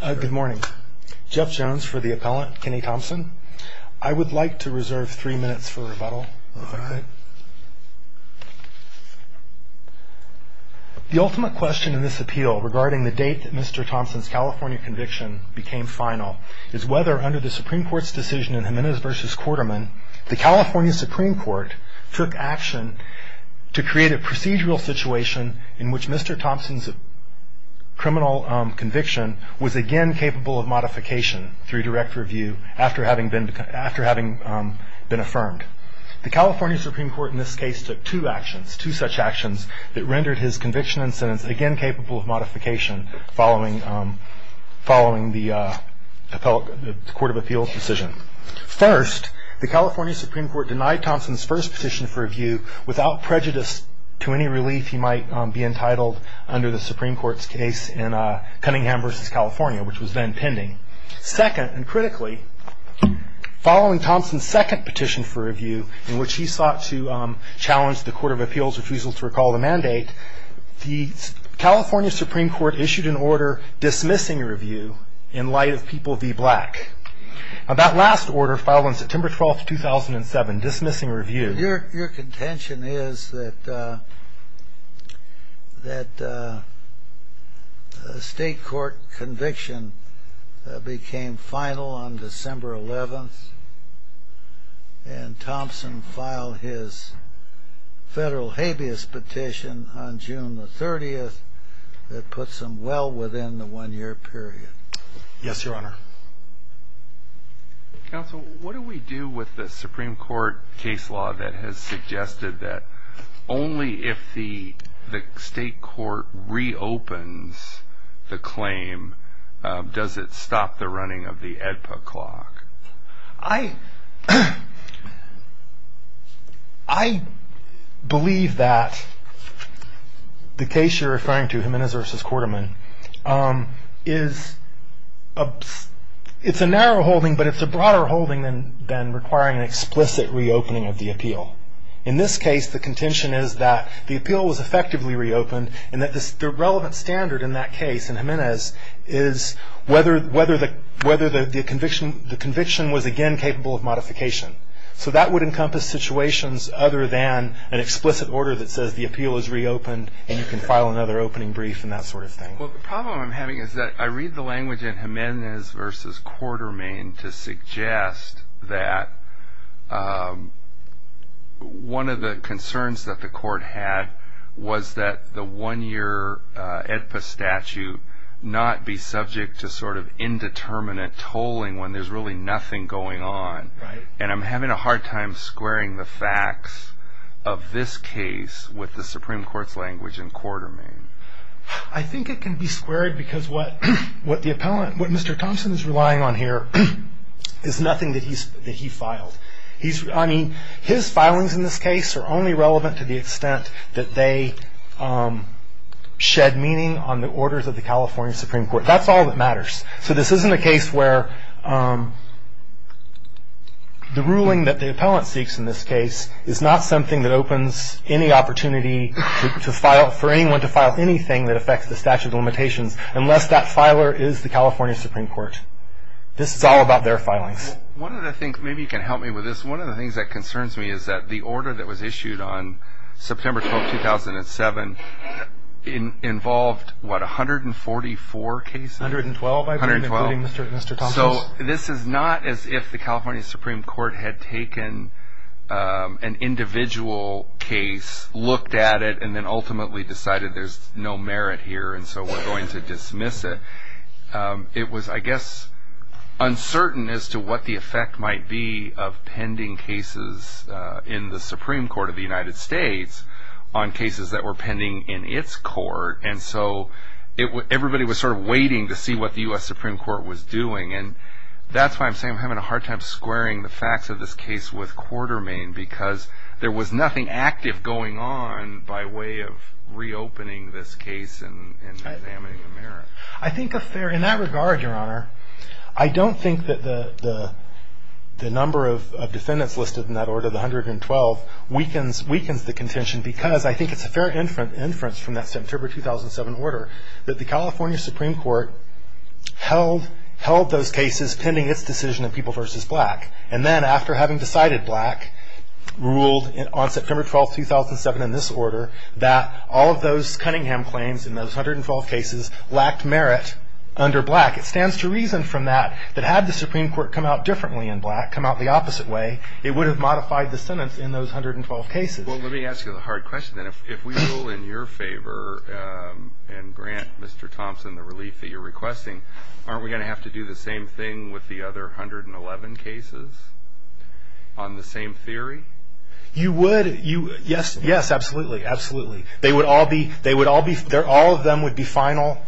Good morning. Jeff Jones for the appellant, Kenny Thompson. I would like to reserve three minutes for rebuttal. The ultimate question in this appeal regarding the date that Mr. Thompson's California conviction became final is whether under the Supreme Court's decision in Jimenez v. Quarterman, the California Supreme Court took action to create a procedural situation in which Mr. Thompson's criminal conviction was again capable of modification through direct review after having been affirmed. The California Supreme Court in this case took two actions, two such actions, that rendered his conviction and sentence again capable of modification following the Court of Appeals' decision. First, the California Supreme Court denied Thompson's first petition for review without prejudice to any relief he might be entitled under the Supreme Court's case in Cunningham v. California, which was then pending. Second, and critically, following Thompson's second petition for review, in which he sought to challenge the Court of Appeals' refusal to recall the mandate, the California Supreme Court issued an order dismissing review in light of People v. Black. That last order, filed on September 12, 2007, dismissing review... Your contention is that a state court conviction became final on December 11th and Thompson filed his federal habeas petition on June 30th that puts him well within the one-year period. Yes, Your Honor. Counsel, what do we do with the Supreme Court case law that has suggested that only if the state court reopens the claim does it stop the running of the AEDPA clock? I believe that the case you're referring to, Jimenez v. Quarterman, is a narrow holding, but it's a broader holding than requiring an explicit reopening of the appeal. In this case, the contention is that the appeal was effectively reopened and that the relevant standard in that case, in Jimenez, is whether the conviction was again capable of modification. So that would encompass situations other than an explicit order that says the appeal is reopened and you can file another opening brief and that sort of thing. Well, the problem I'm having is that I read the language in Jimenez v. Quarterman to suggest that one of the concerns that the court had was that the one-year AEDPA statute not be subject to sort of indeterminate tolling when there's really nothing going on. And I'm having a hard time squaring the facts of this case with the Supreme Court's language in Quarterman. I think it can be squared because what Mr. Thompson is relying on here is nothing that he filed. I mean, his filings in this case are only relevant to the extent that they shed meaning on the orders of the California Supreme Court. That's all that matters. So this isn't a case where the ruling that the appellant seeks in this case is not something that opens any opportunity for anyone to file anything that affects the statute of limitations unless that filer is the California Supreme Court. This is all about their filings. One of the things, maybe you can help me with this, one of the things that concerns me is that the order that was issued on September 12, 2007, involved, what, 144 cases? 112, including Mr. Thompson's. It was not as if the California Supreme Court had taken an individual case, looked at it, and then ultimately decided there's no merit here and so we're going to dismiss it. It was, I guess, uncertain as to what the effect might be of pending cases in the Supreme Court of the United States on cases that were pending in its court. And so everybody was sort of waiting to see what the U.S. Supreme Court was doing. And that's why I'm saying I'm having a hard time squaring the facts of this case with quarter main because there was nothing active going on by way of reopening this case and examining the merit. I think in that regard, Your Honor, I don't think that the number of defendants listed in that order, the 112, weakens the contention because I think it's a fair inference from that September 2007 order that the California Supreme Court held those cases pending its decision in People v. Black. And then after having decided Black ruled on September 12, 2007, in this order, that all of those Cunningham claims in those 112 cases lacked merit under Black. It stands to reason from that that had the Supreme Court come out differently in Black, come out the opposite way, it would have modified the sentence in those 112 cases. Well, let me ask you the hard question then. If we rule in your favor and grant Mr. Thompson the relief that you're requesting, aren't we going to have to do the same thing with the other 111 cases on the same theory? You would. Yes, absolutely. Absolutely. They would all be – all of them would be final.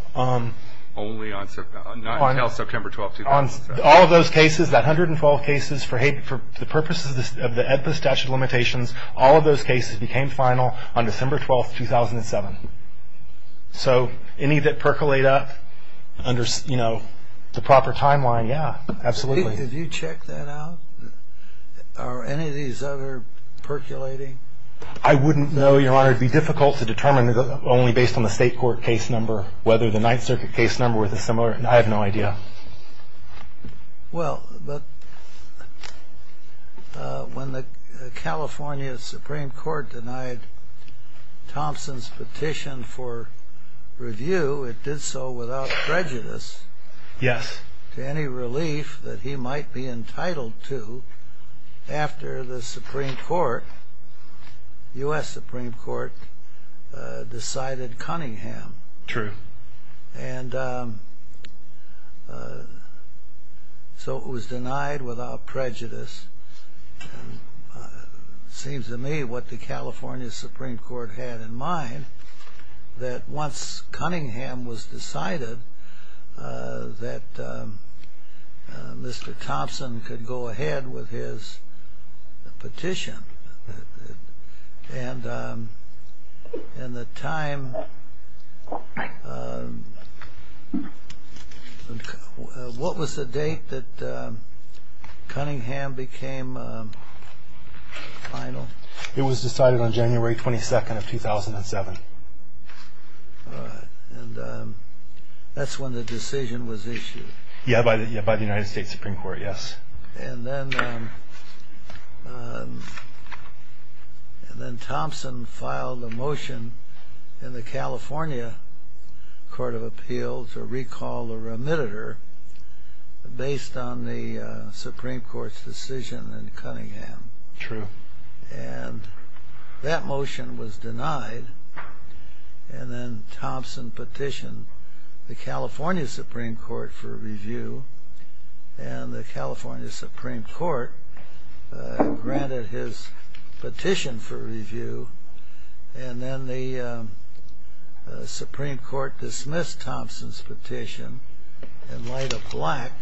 Only on – not until September 12, 2007. All of those cases, that 112 cases, for the purposes of the statute of limitations, all of those cases became final on December 12, 2007. So any that percolate up under, you know, the proper timeline, yeah, absolutely. Have you checked that out? Are any of these other percolating? I wouldn't know, Your Honor. It would be difficult to determine only based on the state court case number whether the Ninth Circuit case number was similar. I have no idea. Well, when the California Supreme Court denied Thompson's petition for review, it did so without prejudice to any relief that he might be entitled to after the Supreme Court, U.S. Supreme Court, decided Cunningham. True. And so it was denied without prejudice. It seems to me what the California Supreme Court had in mind, that once Cunningham was decided, that Mr. Thompson could go ahead with his petition. And the time, what was the date that Cunningham became final? It was decided on January 22, 2007. All right. And that's when the decision was issued. Yeah, by the United States Supreme Court, yes. And then Thompson filed a motion in the California Court of Appeals to recall the remitter based on the Supreme Court's decision in Cunningham. True. And that motion was denied. And then Thompson petitioned the California Supreme Court for review and the California Supreme Court granted his petition for review. And then the Supreme Court dismissed Thompson's petition in light of black.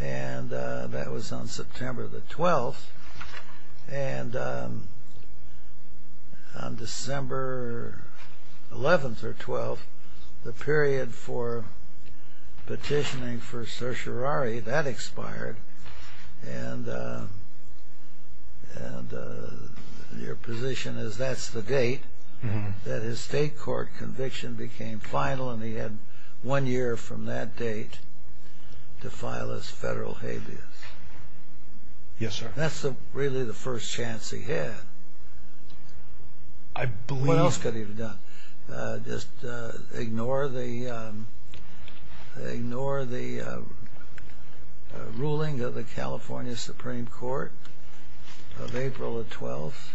And that was on September the 12th. And on December 11th or 12th, the period for petitioning for certiorari, that expired. And your position is that's the date that his state court conviction became final and he had one year from that date to file his federal habeas. Yes, sir. That's really the first chance he had. What else could he have done? Just ignore the ruling of the California Supreme Court of April the 12th?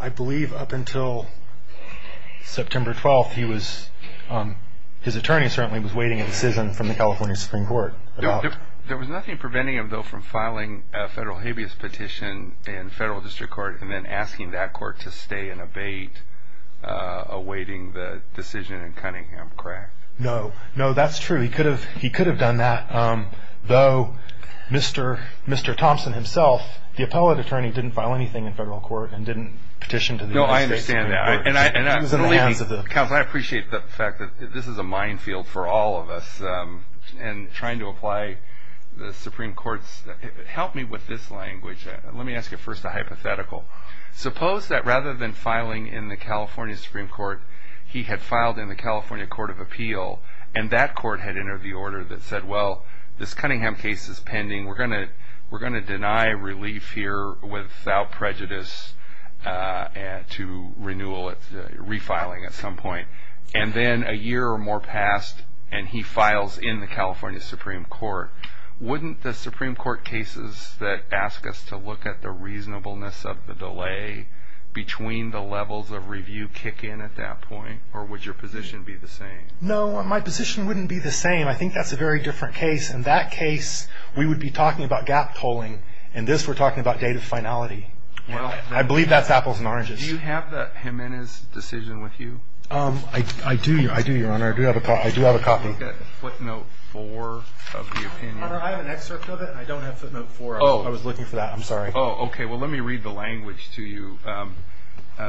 I believe up until September 12th, his attorney certainly was waiting a decision from the California Supreme Court. There was nothing preventing him, though, from filing a federal habeas petition in federal district court and then asking that court to stay and abate awaiting the decision in Cunningham, correct? No. No, that's true. He could have done that, though Mr. Thompson himself, the appellate attorney didn't file anything in federal court and didn't petition to the California Supreme Court. No, I understand that. Counsel, I appreciate the fact that this is a minefield for all of us and trying to apply the Supreme Court's help me with this language. Let me ask you first a hypothetical. Suppose that rather than filing in the California Supreme Court, he had filed in the California Court of Appeal and that court had entered the order that said, well, this Cunningham case is pending. We're going to deny relief here without prejudice to renewal, refiling at some point. And then a year or more passed and he files in the California Supreme Court. Wouldn't the Supreme Court cases that ask us to look at the reasonableness of the delay between the levels of review kick in at that point or would your position be the same? No, my position wouldn't be the same. I think that's a very different case. In that case, we would be talking about gap tolling. In this, we're talking about date of finality. I believe that's apples and oranges. Do you have Jimenez's decision with you? I do, Your Honor. I do have a copy. Do you have a footnote four of the opinion? I have an excerpt of it. I don't have footnote four. Oh, I was looking for that. I'm sorry. Oh, okay. Well, let me read the language to you.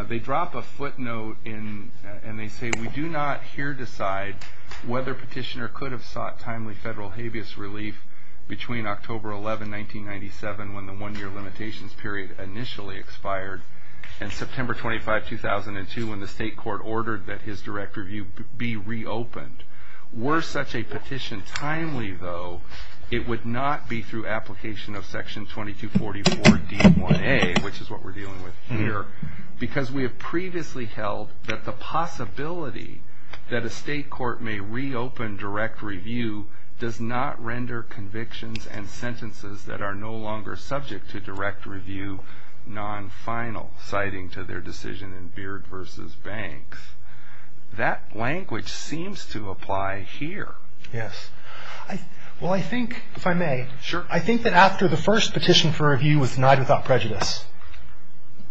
They drop a footnote and they say, we do not here decide whether petitioner could have sought timely federal habeas relief between October 11, 1997 when the one-year limitations period initially expired and September 25, 2002 when the state court ordered that his direct review be reopened. Were such a petition timely, though, it would not be through application of section 2244 D1A, which is what we're dealing with here, because we have previously held that the possibility that a state court may reopen direct review does not render convictions and sentences that are no longer subject to direct review non-final, citing to their decision in Beard v. Banks. That language seems to apply here. Yes. Well, I think, if I may, I think that after the first petition for review was denied without prejudice,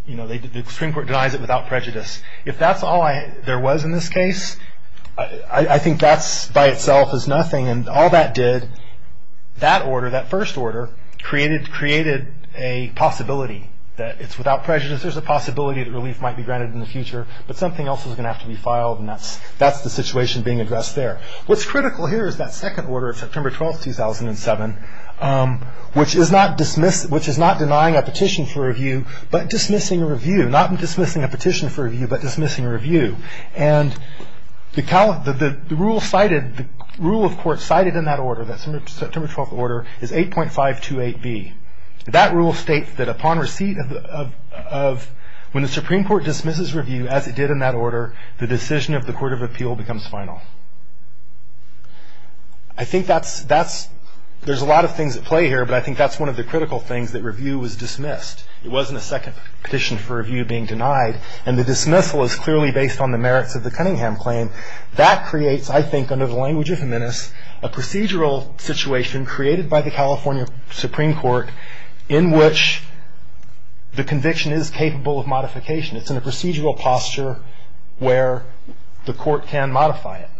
you know, the Supreme Court denies it without prejudice, if that's all there was in this case, I think that by itself is nothing, and all that did, that order, that first order, created a possibility that it's without prejudice. There's a possibility that relief might be granted in the future, but something else is going to have to be filed, and that's the situation being addressed there. What's critical here is that second order of September 12, 2007, which is not denying a petition for review but dismissing a review, not dismissing a petition for review but dismissing a review. And the rule cited, the rule of court cited in that order, that September 12 order, is 8.528B. That rule states that upon receipt of, when the Supreme Court dismisses review as it did in that order, the decision of the Court of Appeal becomes final. I think that's, there's a lot of things at play here, but I think that's one of the critical things, that review was dismissed. It wasn't a second petition for review being denied, and the dismissal is clearly based on the merits of the Cunningham claim. That creates, I think, under the language of Jimenez, a procedural situation created by the California Supreme Court in which the conviction is capable of modification. It's in a procedural posture where the court can modify it.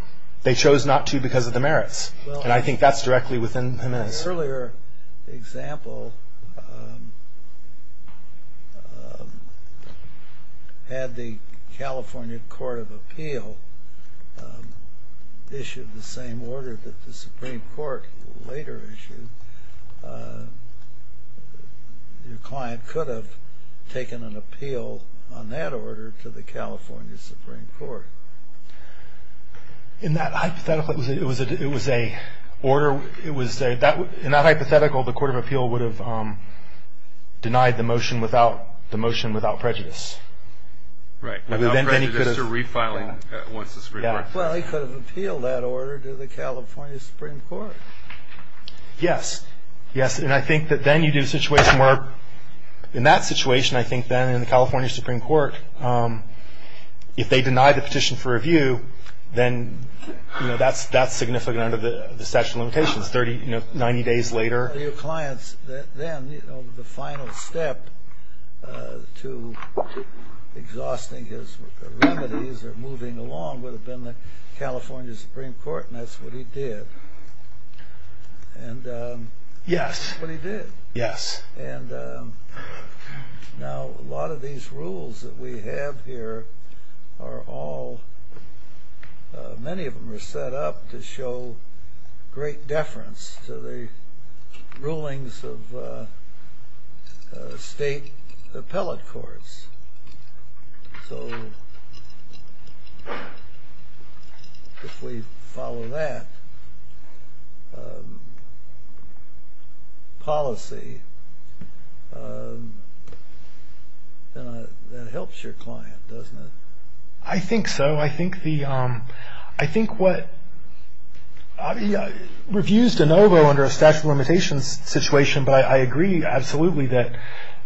They chose not to because of the merits, and I think that's directly within Jimenez. In the earlier example, had the California Court of Appeal issued the same order that the Supreme Court later issued, your client could have taken an appeal on that order to the California Supreme Court. In that hypothetical, it was a order, in that hypothetical, the Court of Appeal would have denied the motion without prejudice. Right, without prejudice to refiling once the Supreme Court. Well, he could have appealed that order to the California Supreme Court. Yes, yes, and I think that then you do a situation where, in that situation, I think then in the California Supreme Court, if they deny the petition for review, then that's significant under the statute of limitations, 90 days later. Your client's, then, the final step to exhausting his remedies or moving along would have been the California Supreme Court, and that's what he did. Yes. That's what he did. Yes. And now a lot of these rules that we have here are all, many of them are set up to show great deference to the rulings of state appellate courts. So if we follow that policy, that helps your client, doesn't it? I think so. I think the, I think what, reviews de novo under a statute of limitations situation, but I agree absolutely that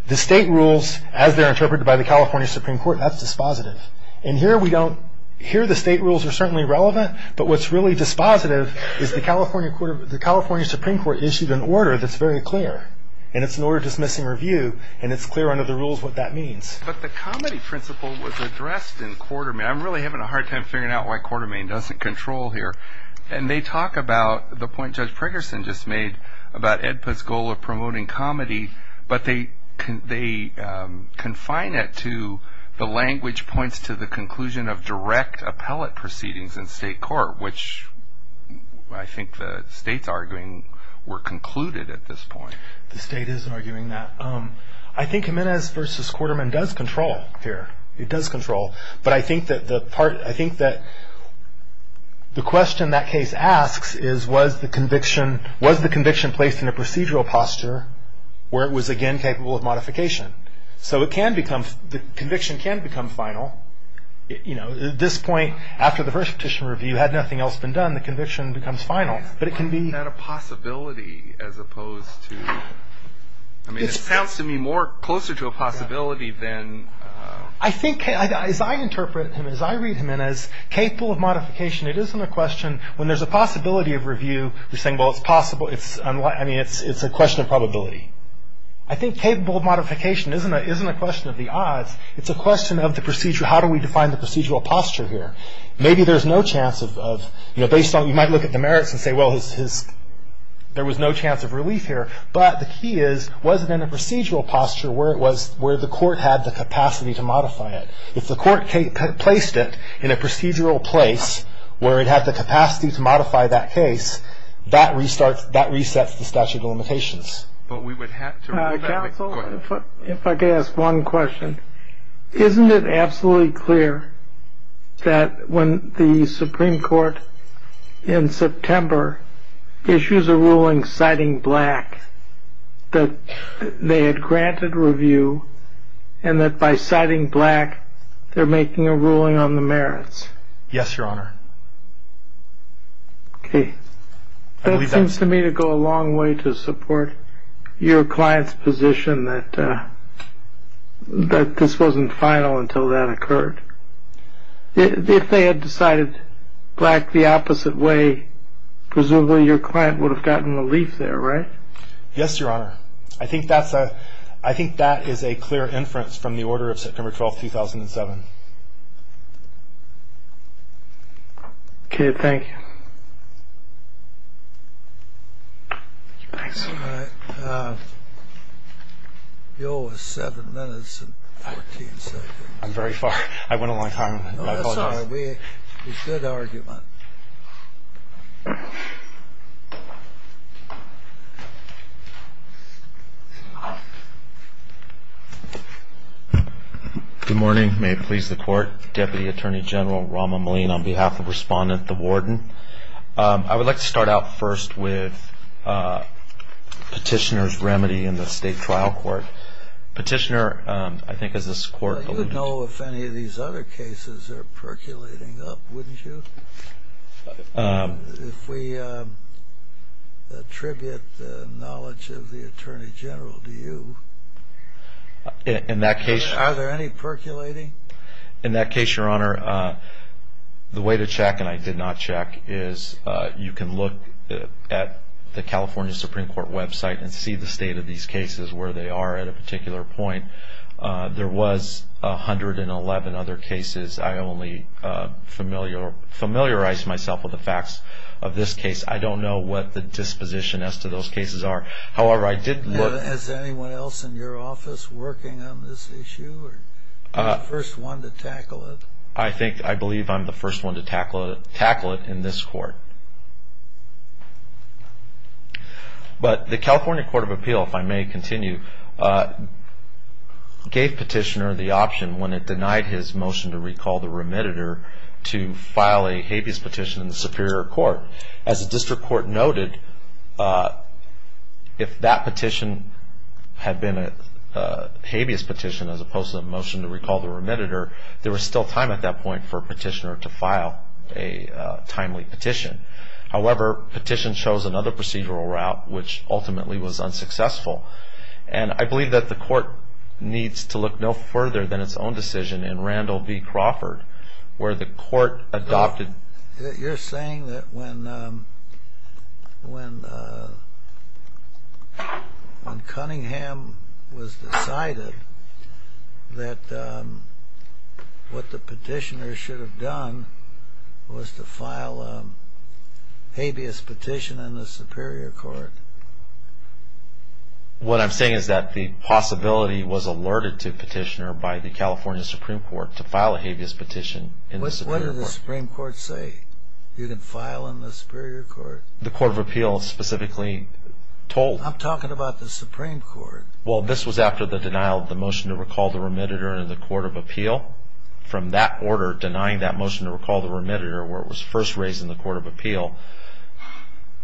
the state rules, as they're interpreted by the California Supreme Court, that's dispositive. And here we don't, here the state rules are certainly relevant, but what's really dispositive is the California Supreme Court issued an order that's very clear, and it's an order dismissing review, and it's clear under the rules what that means. But the comedy principle was addressed in Quartermain. I'm really having a hard time figuring out why Quartermain doesn't control here. And they talk about the point Judge Preggerson just made about EDPA's goal of promoting comedy, but they confine it to the language points to the conclusion of direct appellate proceedings in state court, which I think the state's arguing were concluded at this point. The state isn't arguing that. I think Jimenez v. Quartermain does control here. It does control. But I think that the part, I think that the question that case asks is, was the conviction placed in a procedural posture where it was again capable of modification? So it can become, the conviction can become final. At this point, after the first petition review, had nothing else been done, the conviction becomes final. But it can be... Isn't that a possibility as opposed to... I mean, it sounds to me more closer to a possibility than... I think, as I interpret him, as I read Jimenez, capable of modification, it isn't a question. When there's a possibility of review, we're saying, well, it's possible. I mean, it's a question of probability. I think capable of modification isn't a question of the odds. It's a question of the procedure. How do we define the procedural posture here? Maybe there's no chance of... You might look at the merits and say, well, there was no chance of relief here. But the key is, was it in a procedural posture where the court had the capacity to modify it? If the court placed it in a procedural place where it had the capacity to modify that case, that resets the statute of limitations. But we would have to... Counsel, if I could ask one question. Isn't it absolutely clear that when the Supreme Court, in September, issues a ruling citing Black, that they had granted review and that by citing Black, they're making a ruling on the merits? Yes, Your Honor. Okay. That seems to me to go a long way to support your client's position that this wasn't final until that occurred. If they had decided Black the opposite way, presumably your client would have gotten relief there, right? Yes, Your Honor. I think that is a clear inference from the order of September 12, 2007. Okay, thank you. All right. The bill was 7 minutes and 14 seconds. I'm very far. I went a long time. I apologize. No, that's all right. It was good argument. Good morning. May it please the Court. Deputy Attorney General Rama Maleen, on behalf of Respondent the Warden. I would like to start out first with Petitioner's remedy in the State Trial Court. Petitioner, I think, as this Court alluded to... You would know if any of these other cases are percolating up, wouldn't you? If we attribute the knowledge of the Attorney General to you, are there any percolating? In that case, Your Honor, the way to check, and I did not check, is you can look at the California Supreme Court website and see the state of these cases where they are at a particular point. There was 111 other cases. I only familiarized myself with the facts of this case. I don't know what the disposition as to those cases are. However, I did look... Is anyone else in your office working on this issue? Are you the first one to tackle it? I believe I'm the first one to tackle it in this Court. But the California Court of Appeal, if I may continue, gave Petitioner the option, when it denied his motion to recall the remediator, to file a habeas petition in the Superior Court. As the District Court noted, if that petition had been a habeas petition as opposed to a motion to recall the remediator, there was still time at that point for Petitioner to file a timely petition. However, Petitioner chose another procedural route, which ultimately was unsuccessful. And I believe that the Court needs to look no further than its own decision in Randall v. Crawford, where the Court adopted... You're saying that when Cunningham was decided that what the Petitioner should have done was to file a habeas petition in the Superior Court? What I'm saying is that the possibility was alerted to Petitioner by the California Supreme Court to file a habeas petition in the Superior Court. What did the Supreme Court say? You can file in the Superior Court? The Court of Appeal specifically told... I'm talking about the Supreme Court. Well, this was after the denial of the motion to recall the remediator in the Court of Appeal. From that order, denying that motion to recall the remediator, where it was first raised in the Court of Appeal,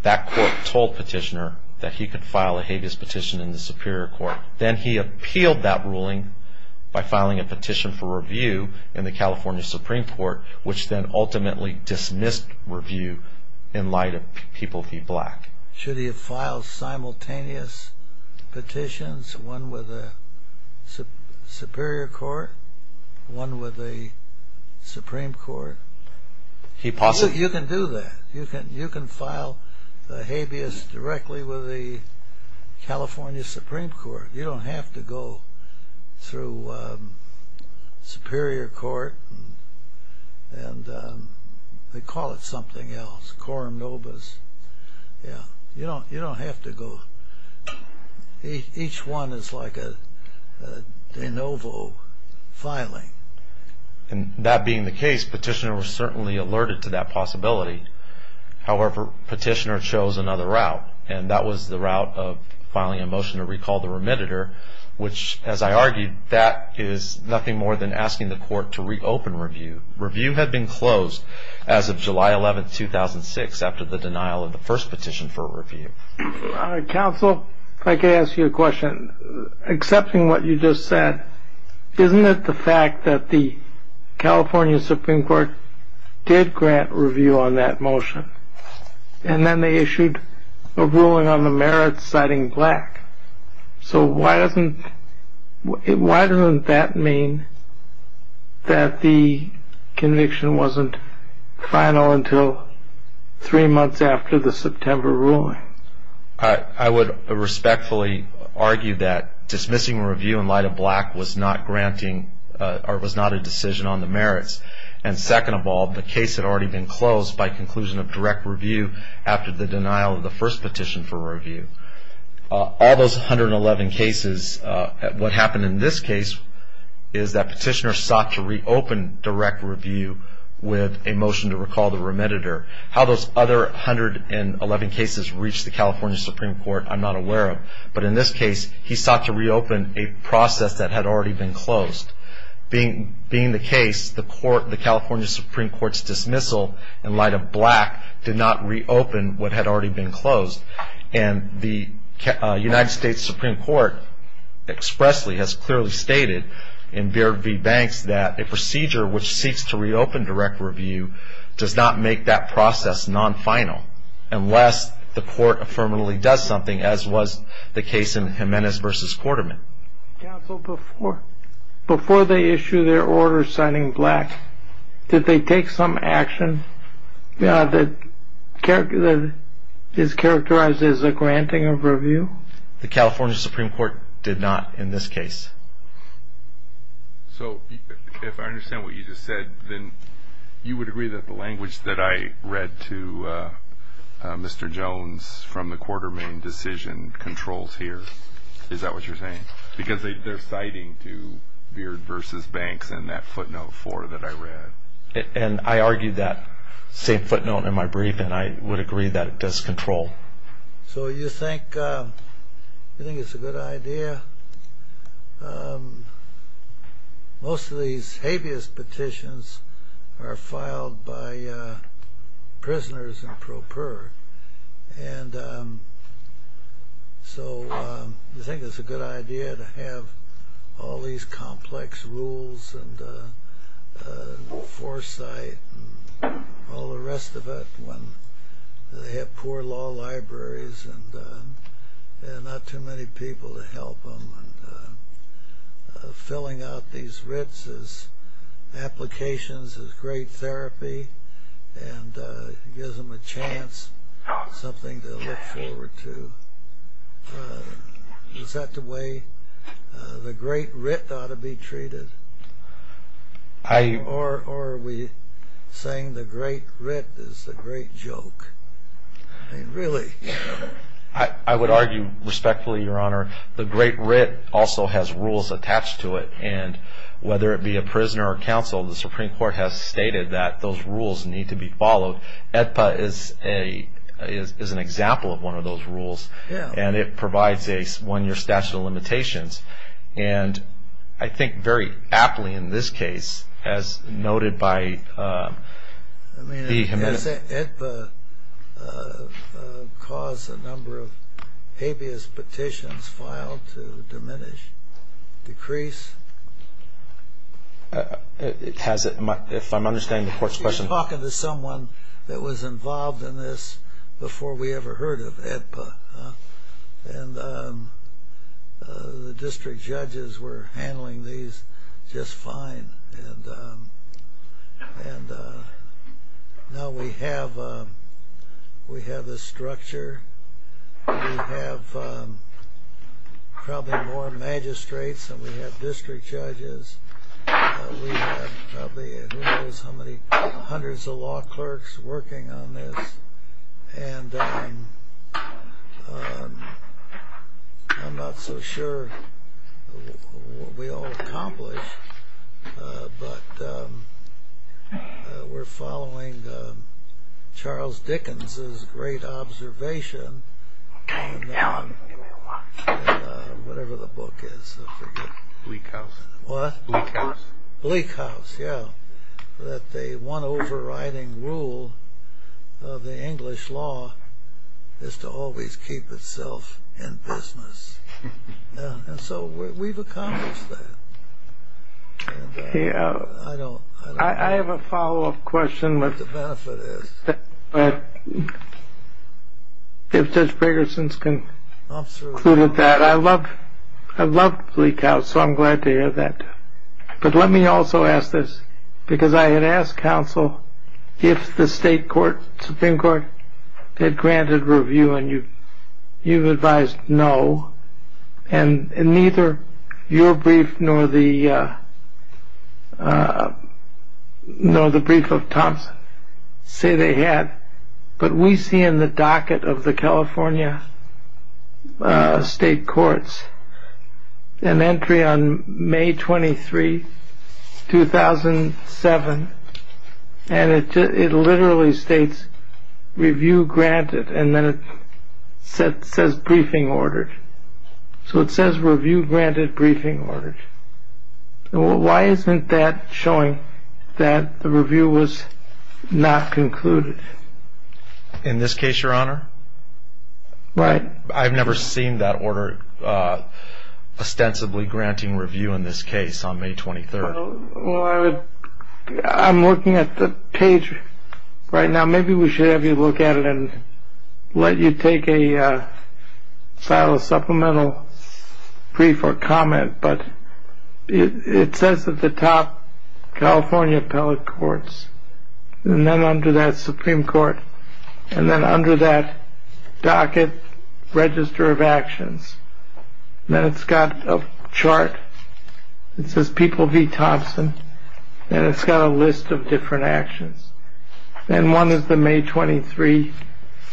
that Court told Petitioner that he could file a habeas petition in the Superior Court. Then he appealed that ruling by filing a petition for review in the California Supreme Court, which then ultimately dismissed review in light of People v. Black. Should he have filed simultaneous petitions, one with the Superior Court, one with the Supreme Court? You can do that. You can file the habeas directly with the California Supreme Court. You don't have to go through Superior Court. And they call it something else, quorum nobis. You don't have to go... Each one is like a de novo filing. And that being the case, Petitioner was certainly alerted to that possibility. However, Petitioner chose another route, and that was the route of filing a motion to recall the remediator, which, as I argued, that is nothing more than asking the Court to reopen review. Review had been closed as of July 11, 2006, after the denial of the first petition for review. Counsel, if I could ask you a question. Accepting what you just said, isn't it the fact that the California Supreme Court did grant review on that motion, and then they issued a ruling on the merits citing Black? So why doesn't that mean that the conviction wasn't final until three months after the September ruling? I would respectfully argue that dismissing review in light of Black was not a decision on the merits. And second of all, the case had already been closed by conclusion of direct review after the denial of the first petition for review. All those 111 cases, what happened in this case is that Petitioner sought to reopen direct review with a motion to recall the remediator. How those other 111 cases reached the California Supreme Court, I'm not aware of. But in this case, he sought to reopen a process that had already been closed. Being the case, the California Supreme Court's dismissal in light of Black did not reopen what had already been closed. And the United States Supreme Court expressly has clearly stated in BRB Banks that a procedure which seeks to reopen direct review does not make that process non-final unless the court affirmatively does something, as was the case in Jimenez v. Quarterman. Counsel, before they issued their order citing Black, did they take some action that is characterized as a granting of review? The California Supreme Court did not in this case. So if I understand what you just said, then you would agree that the language that I read to Mr. Jones from the Quartermain decision controls here. Is that what you're saying? Because they're citing to Beard v. Banks in that footnote 4 that I read. And I argued that same footnote in my brief, and I would agree that it does control. So you think it's a good idea? Most of these habeas petitions are filed by prisoners in pro per. And so you think it's a good idea to have all these complex rules and foresight and all the rest of it when they have poor law libraries and not too many people to help them. And filling out these writs as applications is great therapy and gives them a chance, something to look forward to. Is that the way the great writ ought to be treated? Or are we saying the great writ is the great joke? I mean, really. I would argue respectfully, Your Honor, the great writ also has rules attached to it. And whether it be a prisoner or counsel, the Supreme Court has stated that those rules need to be followed. AEDPA is an example of one of those rules. And it provides a one-year statute of limitations. And I think very aptly in this case, as noted by the committee. Has AEDPA caused a number of habeas petitions filed to diminish, decrease? If I'm understanding the Court's question. You're talking to someone that was involved in this before we ever heard of AEDPA. And the district judges were handling these just fine. And now we have this structure. We have probably more magistrates than we have district judges. We have probably, who knows how many, hundreds of law clerks working on this. And I'm not so sure what we all accomplished. But we're following Charles Dickens' great observation. Whatever the book is. Bleak House. Bleak House, yeah. That the one overriding rule of the English law is to always keep itself in business. And so we've accomplished that. I have a follow-up question what the benefit is. If Judge Gregersen's concluded that. I love Bleak House, so I'm glad to hear that. But let me also ask this. Because I had asked counsel if the state court, Supreme Court, had granted review. And you've advised no. And neither your brief nor the brief of Thompson say they had. But we see in the docket of the California state courts an entry on May 23, 2007. And it literally states review granted. And then it says briefing ordered. So it says review granted, briefing ordered. Why isn't that showing that the review was not concluded? In this case, Your Honor? Right. I've never seen that order ostensibly granting review in this case on May 23. Well, I'm looking at the page right now. Maybe we should have you look at it and let you take a file of supplemental brief or comment. But it says at the top, California Appellate Courts. And then under that, Supreme Court. And then under that docket, Register of Actions. Then it's got a chart. It says People v. Thompson. And it's got a list of different actions. And one is the May 23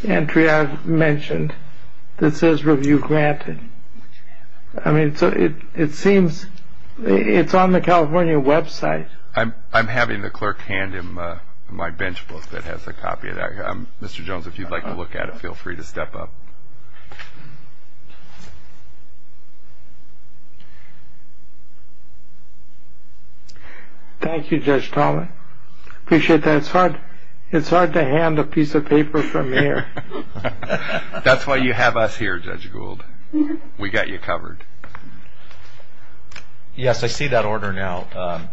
entry I mentioned that says review granted. I mean, it seems it's on the California website. I'm having the clerk hand him my bench book that has a copy of that. Mr. Jones, if you'd like to look at it, feel free to step up. Thank you, Judge Tolman. I appreciate that. It's hard to hand a piece of paper from here. That's why you have us here, Judge Gould. We got you covered. Yes, I see that order now.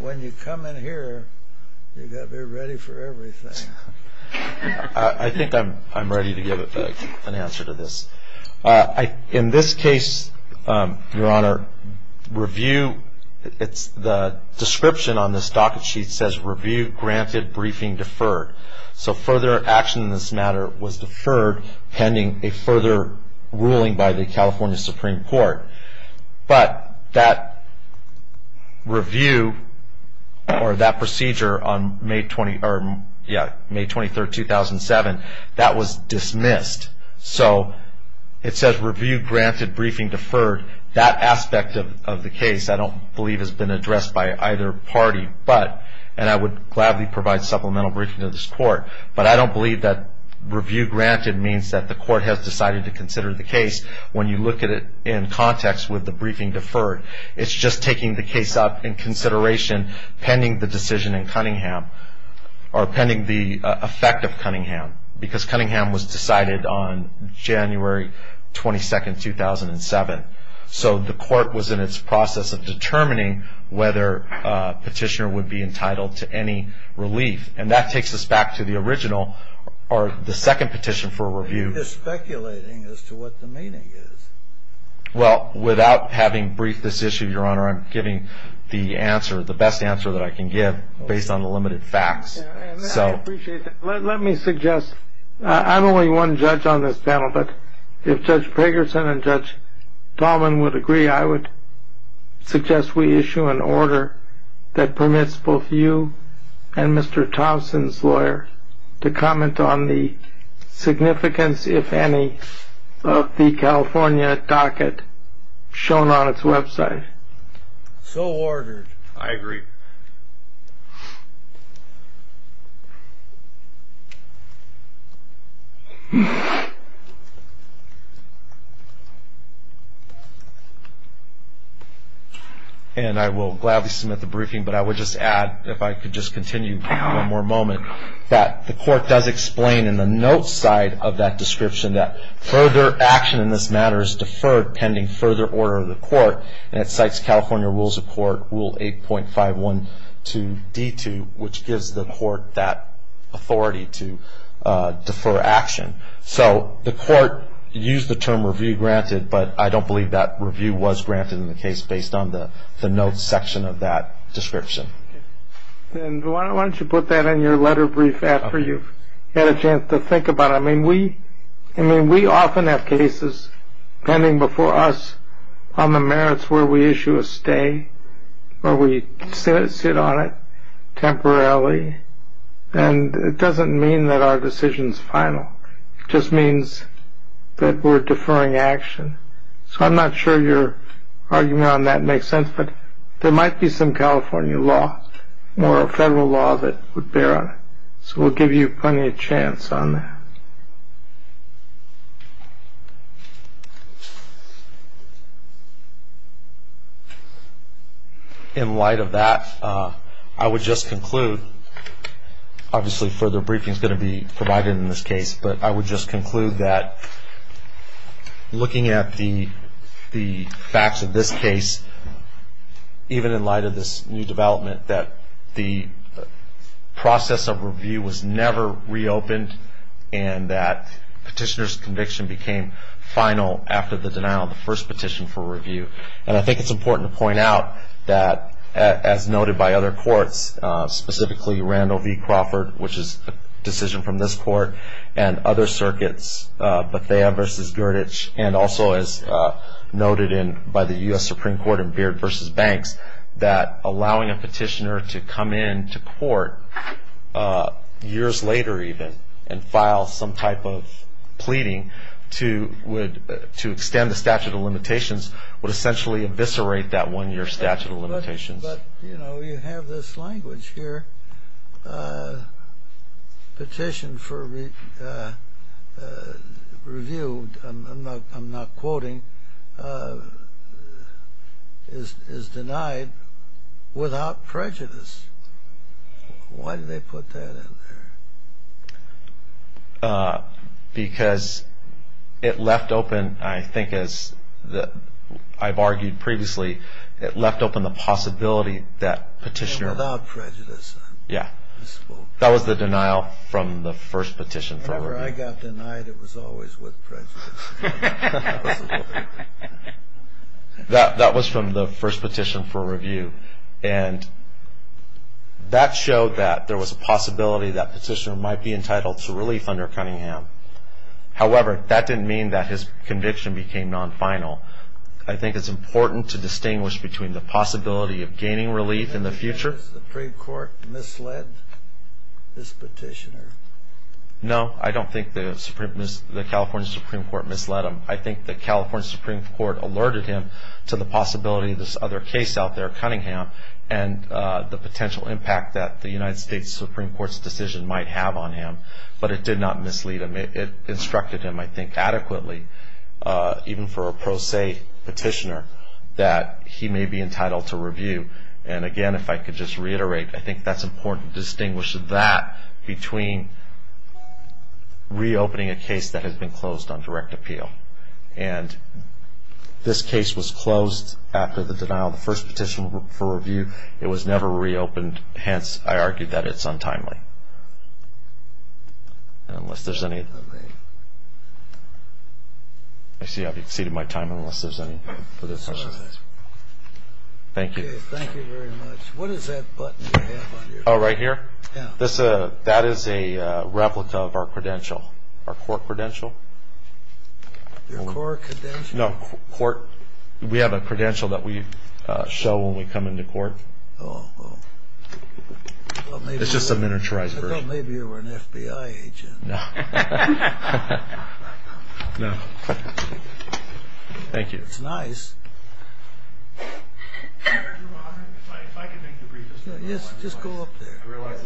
When you come in here, you've got to be ready for everything. I think I'm ready to give an answer to this. In this case, Your Honor, review, the description on this docket sheet says review granted, briefing deferred. So further action in this matter was deferred pending a further ruling by the California Supreme Court. But that review or that procedure on May 23, 2007, that was dismissed. So it says review granted, briefing deferred. That aspect of the case I don't believe has been addressed by either party. But, and I would gladly provide supplemental briefing to this court, but I don't believe that review granted means that the court has decided to consider the case. When you look at it in context with the briefing deferred, it's just taking the case up in consideration pending the decision in Cunningham or pending the effect of Cunningham because Cunningham was decided on January 22, 2007. So the court was in its process of determining whether a petitioner would be entitled to any relief. And that takes us back to the original or the second petition for review. You're speculating as to what the meaning is. Well, without having briefed this issue, Your Honor, I'm giving the answer, the best answer that I can give based on the limited facts. Let me suggest, I'm only one judge on this panel, but if Judge Pagerson and Judge Tallman would agree, I would suggest we issue an order that permits both you and Mr. Thompson's lawyer to comment on the significance, if any, of the California docket shown on its website. So ordered. I agree. And I will gladly submit the briefing, but I would just add, if I could just continue for one more moment, that the court does explain in the notes side of that description that further action in this matter is deferred pending further order of the court. And it cites California Rules of Court Rule 8.512D2, which gives the court that authority to defer action. So the court used the term review granted, but I don't believe that review was granted in the case based on the notes section of that description. And why don't you put that in your letter brief after you've had a chance to think about it. I mean, we often have cases pending before us on the merits where we issue a stay or we sit on it temporarily. And it doesn't mean that our decision is final. It just means that we're deferring action. So I'm not sure your argument on that makes sense, but there might be some California law or a federal law that would bear on it. So we'll give you plenty of chance on that. In light of that, I would just conclude, obviously further briefing is going to be provided in this case, but I would just conclude that looking at the facts of this case, even in light of this new development, that the process of review was never reopened and that petitioner's conviction became final after the denial of the first petition for review. And I think it's important to point out that, as noted by other courts, specifically Randall v. Crawford, which is a decision from this court, and other circuits, Bethea v. Gurditch, and also as noted by the U.S. Supreme Court in Beard v. Banks, that allowing a petitioner to come into court, years later even, and file some type of pleading to extend the statute of limitations would essentially eviscerate that one-year statute of limitations. But, you know, you have this language here. Petition for review, I'm not quoting, is denied without prejudice. Why did they put that in there? Because it left open, I think as I've argued previously, it left open the possibility that petitioner... Without prejudice. Yeah. That was the denial from the first petition for review. Whenever I got denied, it was always with prejudice. That was from the first petition for review. And that showed that there was a possibility that petitioner might be entitled to relief under Cunningham. However, that didn't mean that his conviction became non-final. I think it's important to distinguish between the possibility of gaining relief in the future. Do you think the Supreme Court misled this petitioner? No, I don't think the California Supreme Court misled him. I think the California Supreme Court alerted him to the possibility of this other case out there, Cunningham, and the potential impact that the United States Supreme Court's decision might have on him. But it did not mislead him. It instructed him, I think, adequately, even for a pro se petitioner, that he may be entitled to review. And again, if I could just reiterate, I think that's important to distinguish that between reopening a case that has been closed on direct appeal. And this case was closed after the denial of the first petition for review. It was never reopened. Hence, I argue that it's untimely. Unless there's any... I see I've exceeded my time, unless there's any further questions. Thank you. Okay, thank you very much. What is that button you have on your... Oh, right here? Yeah. That is a replica of our credential, our court credential. Your court credential? No, court. We have a credential that we show when we come into court. Oh, oh. It's just a miniaturized version. I thought maybe you were an FBI agent. No. No. Thank you. It's nice. Just go up there.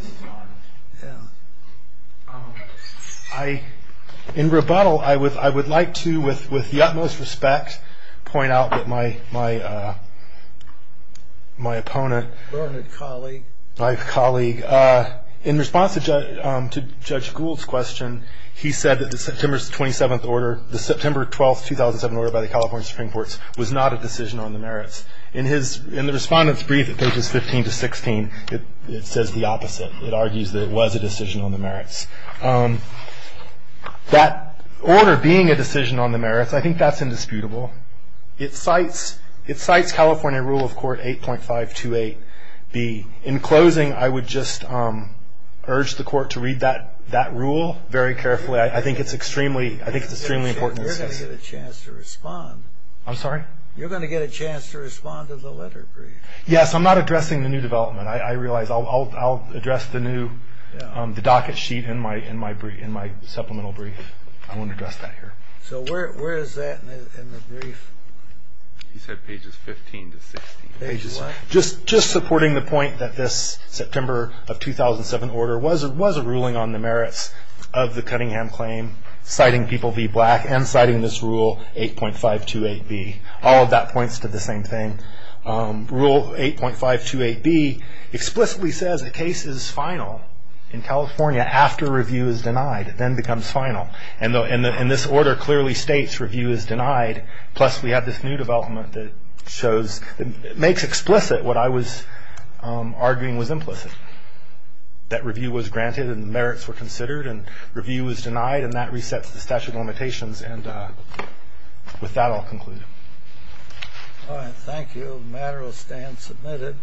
In rebuttal, I would like to, with the utmost respect, point out that my opponent... My colleague, in response to Judge Gould's question, he said that the September 27th order, the September 12th, 2007 order by the California Supreme Court, was not a decision on the merits. In the Respondent's brief at pages 15 to 16, it says the opposite. It argues that it was a decision on the merits. That order being a decision on the merits, I think that's indisputable. It cites California Rule of Court 8.528B. In closing, I would just urge the court to read that rule very carefully. I think it's extremely important. You're going to get a chance to respond. I'm sorry? You're going to get a chance to respond to the letter brief. Yes, I'm not addressing the new development. I realize I'll address the docket sheet in my supplemental brief. I won't address that here. So where is that in the brief? He said pages 15 to 16. Pages what? Just supporting the point that this September of 2007 order was a ruling on the merits of the Cunningham claim, citing people v. Black, and citing this Rule 8.528B. All of that points to the same thing. Rule 8.528B explicitly says a case is final in California after review is denied. It then becomes final. And this order clearly states review is denied, plus we have this new development that makes explicit what I was arguing was implicit, that review was granted and merits were considered and review was denied, and that resets the statute of limitations. And with that, I'll conclude. All right. Thank you. The matter will stand submitted.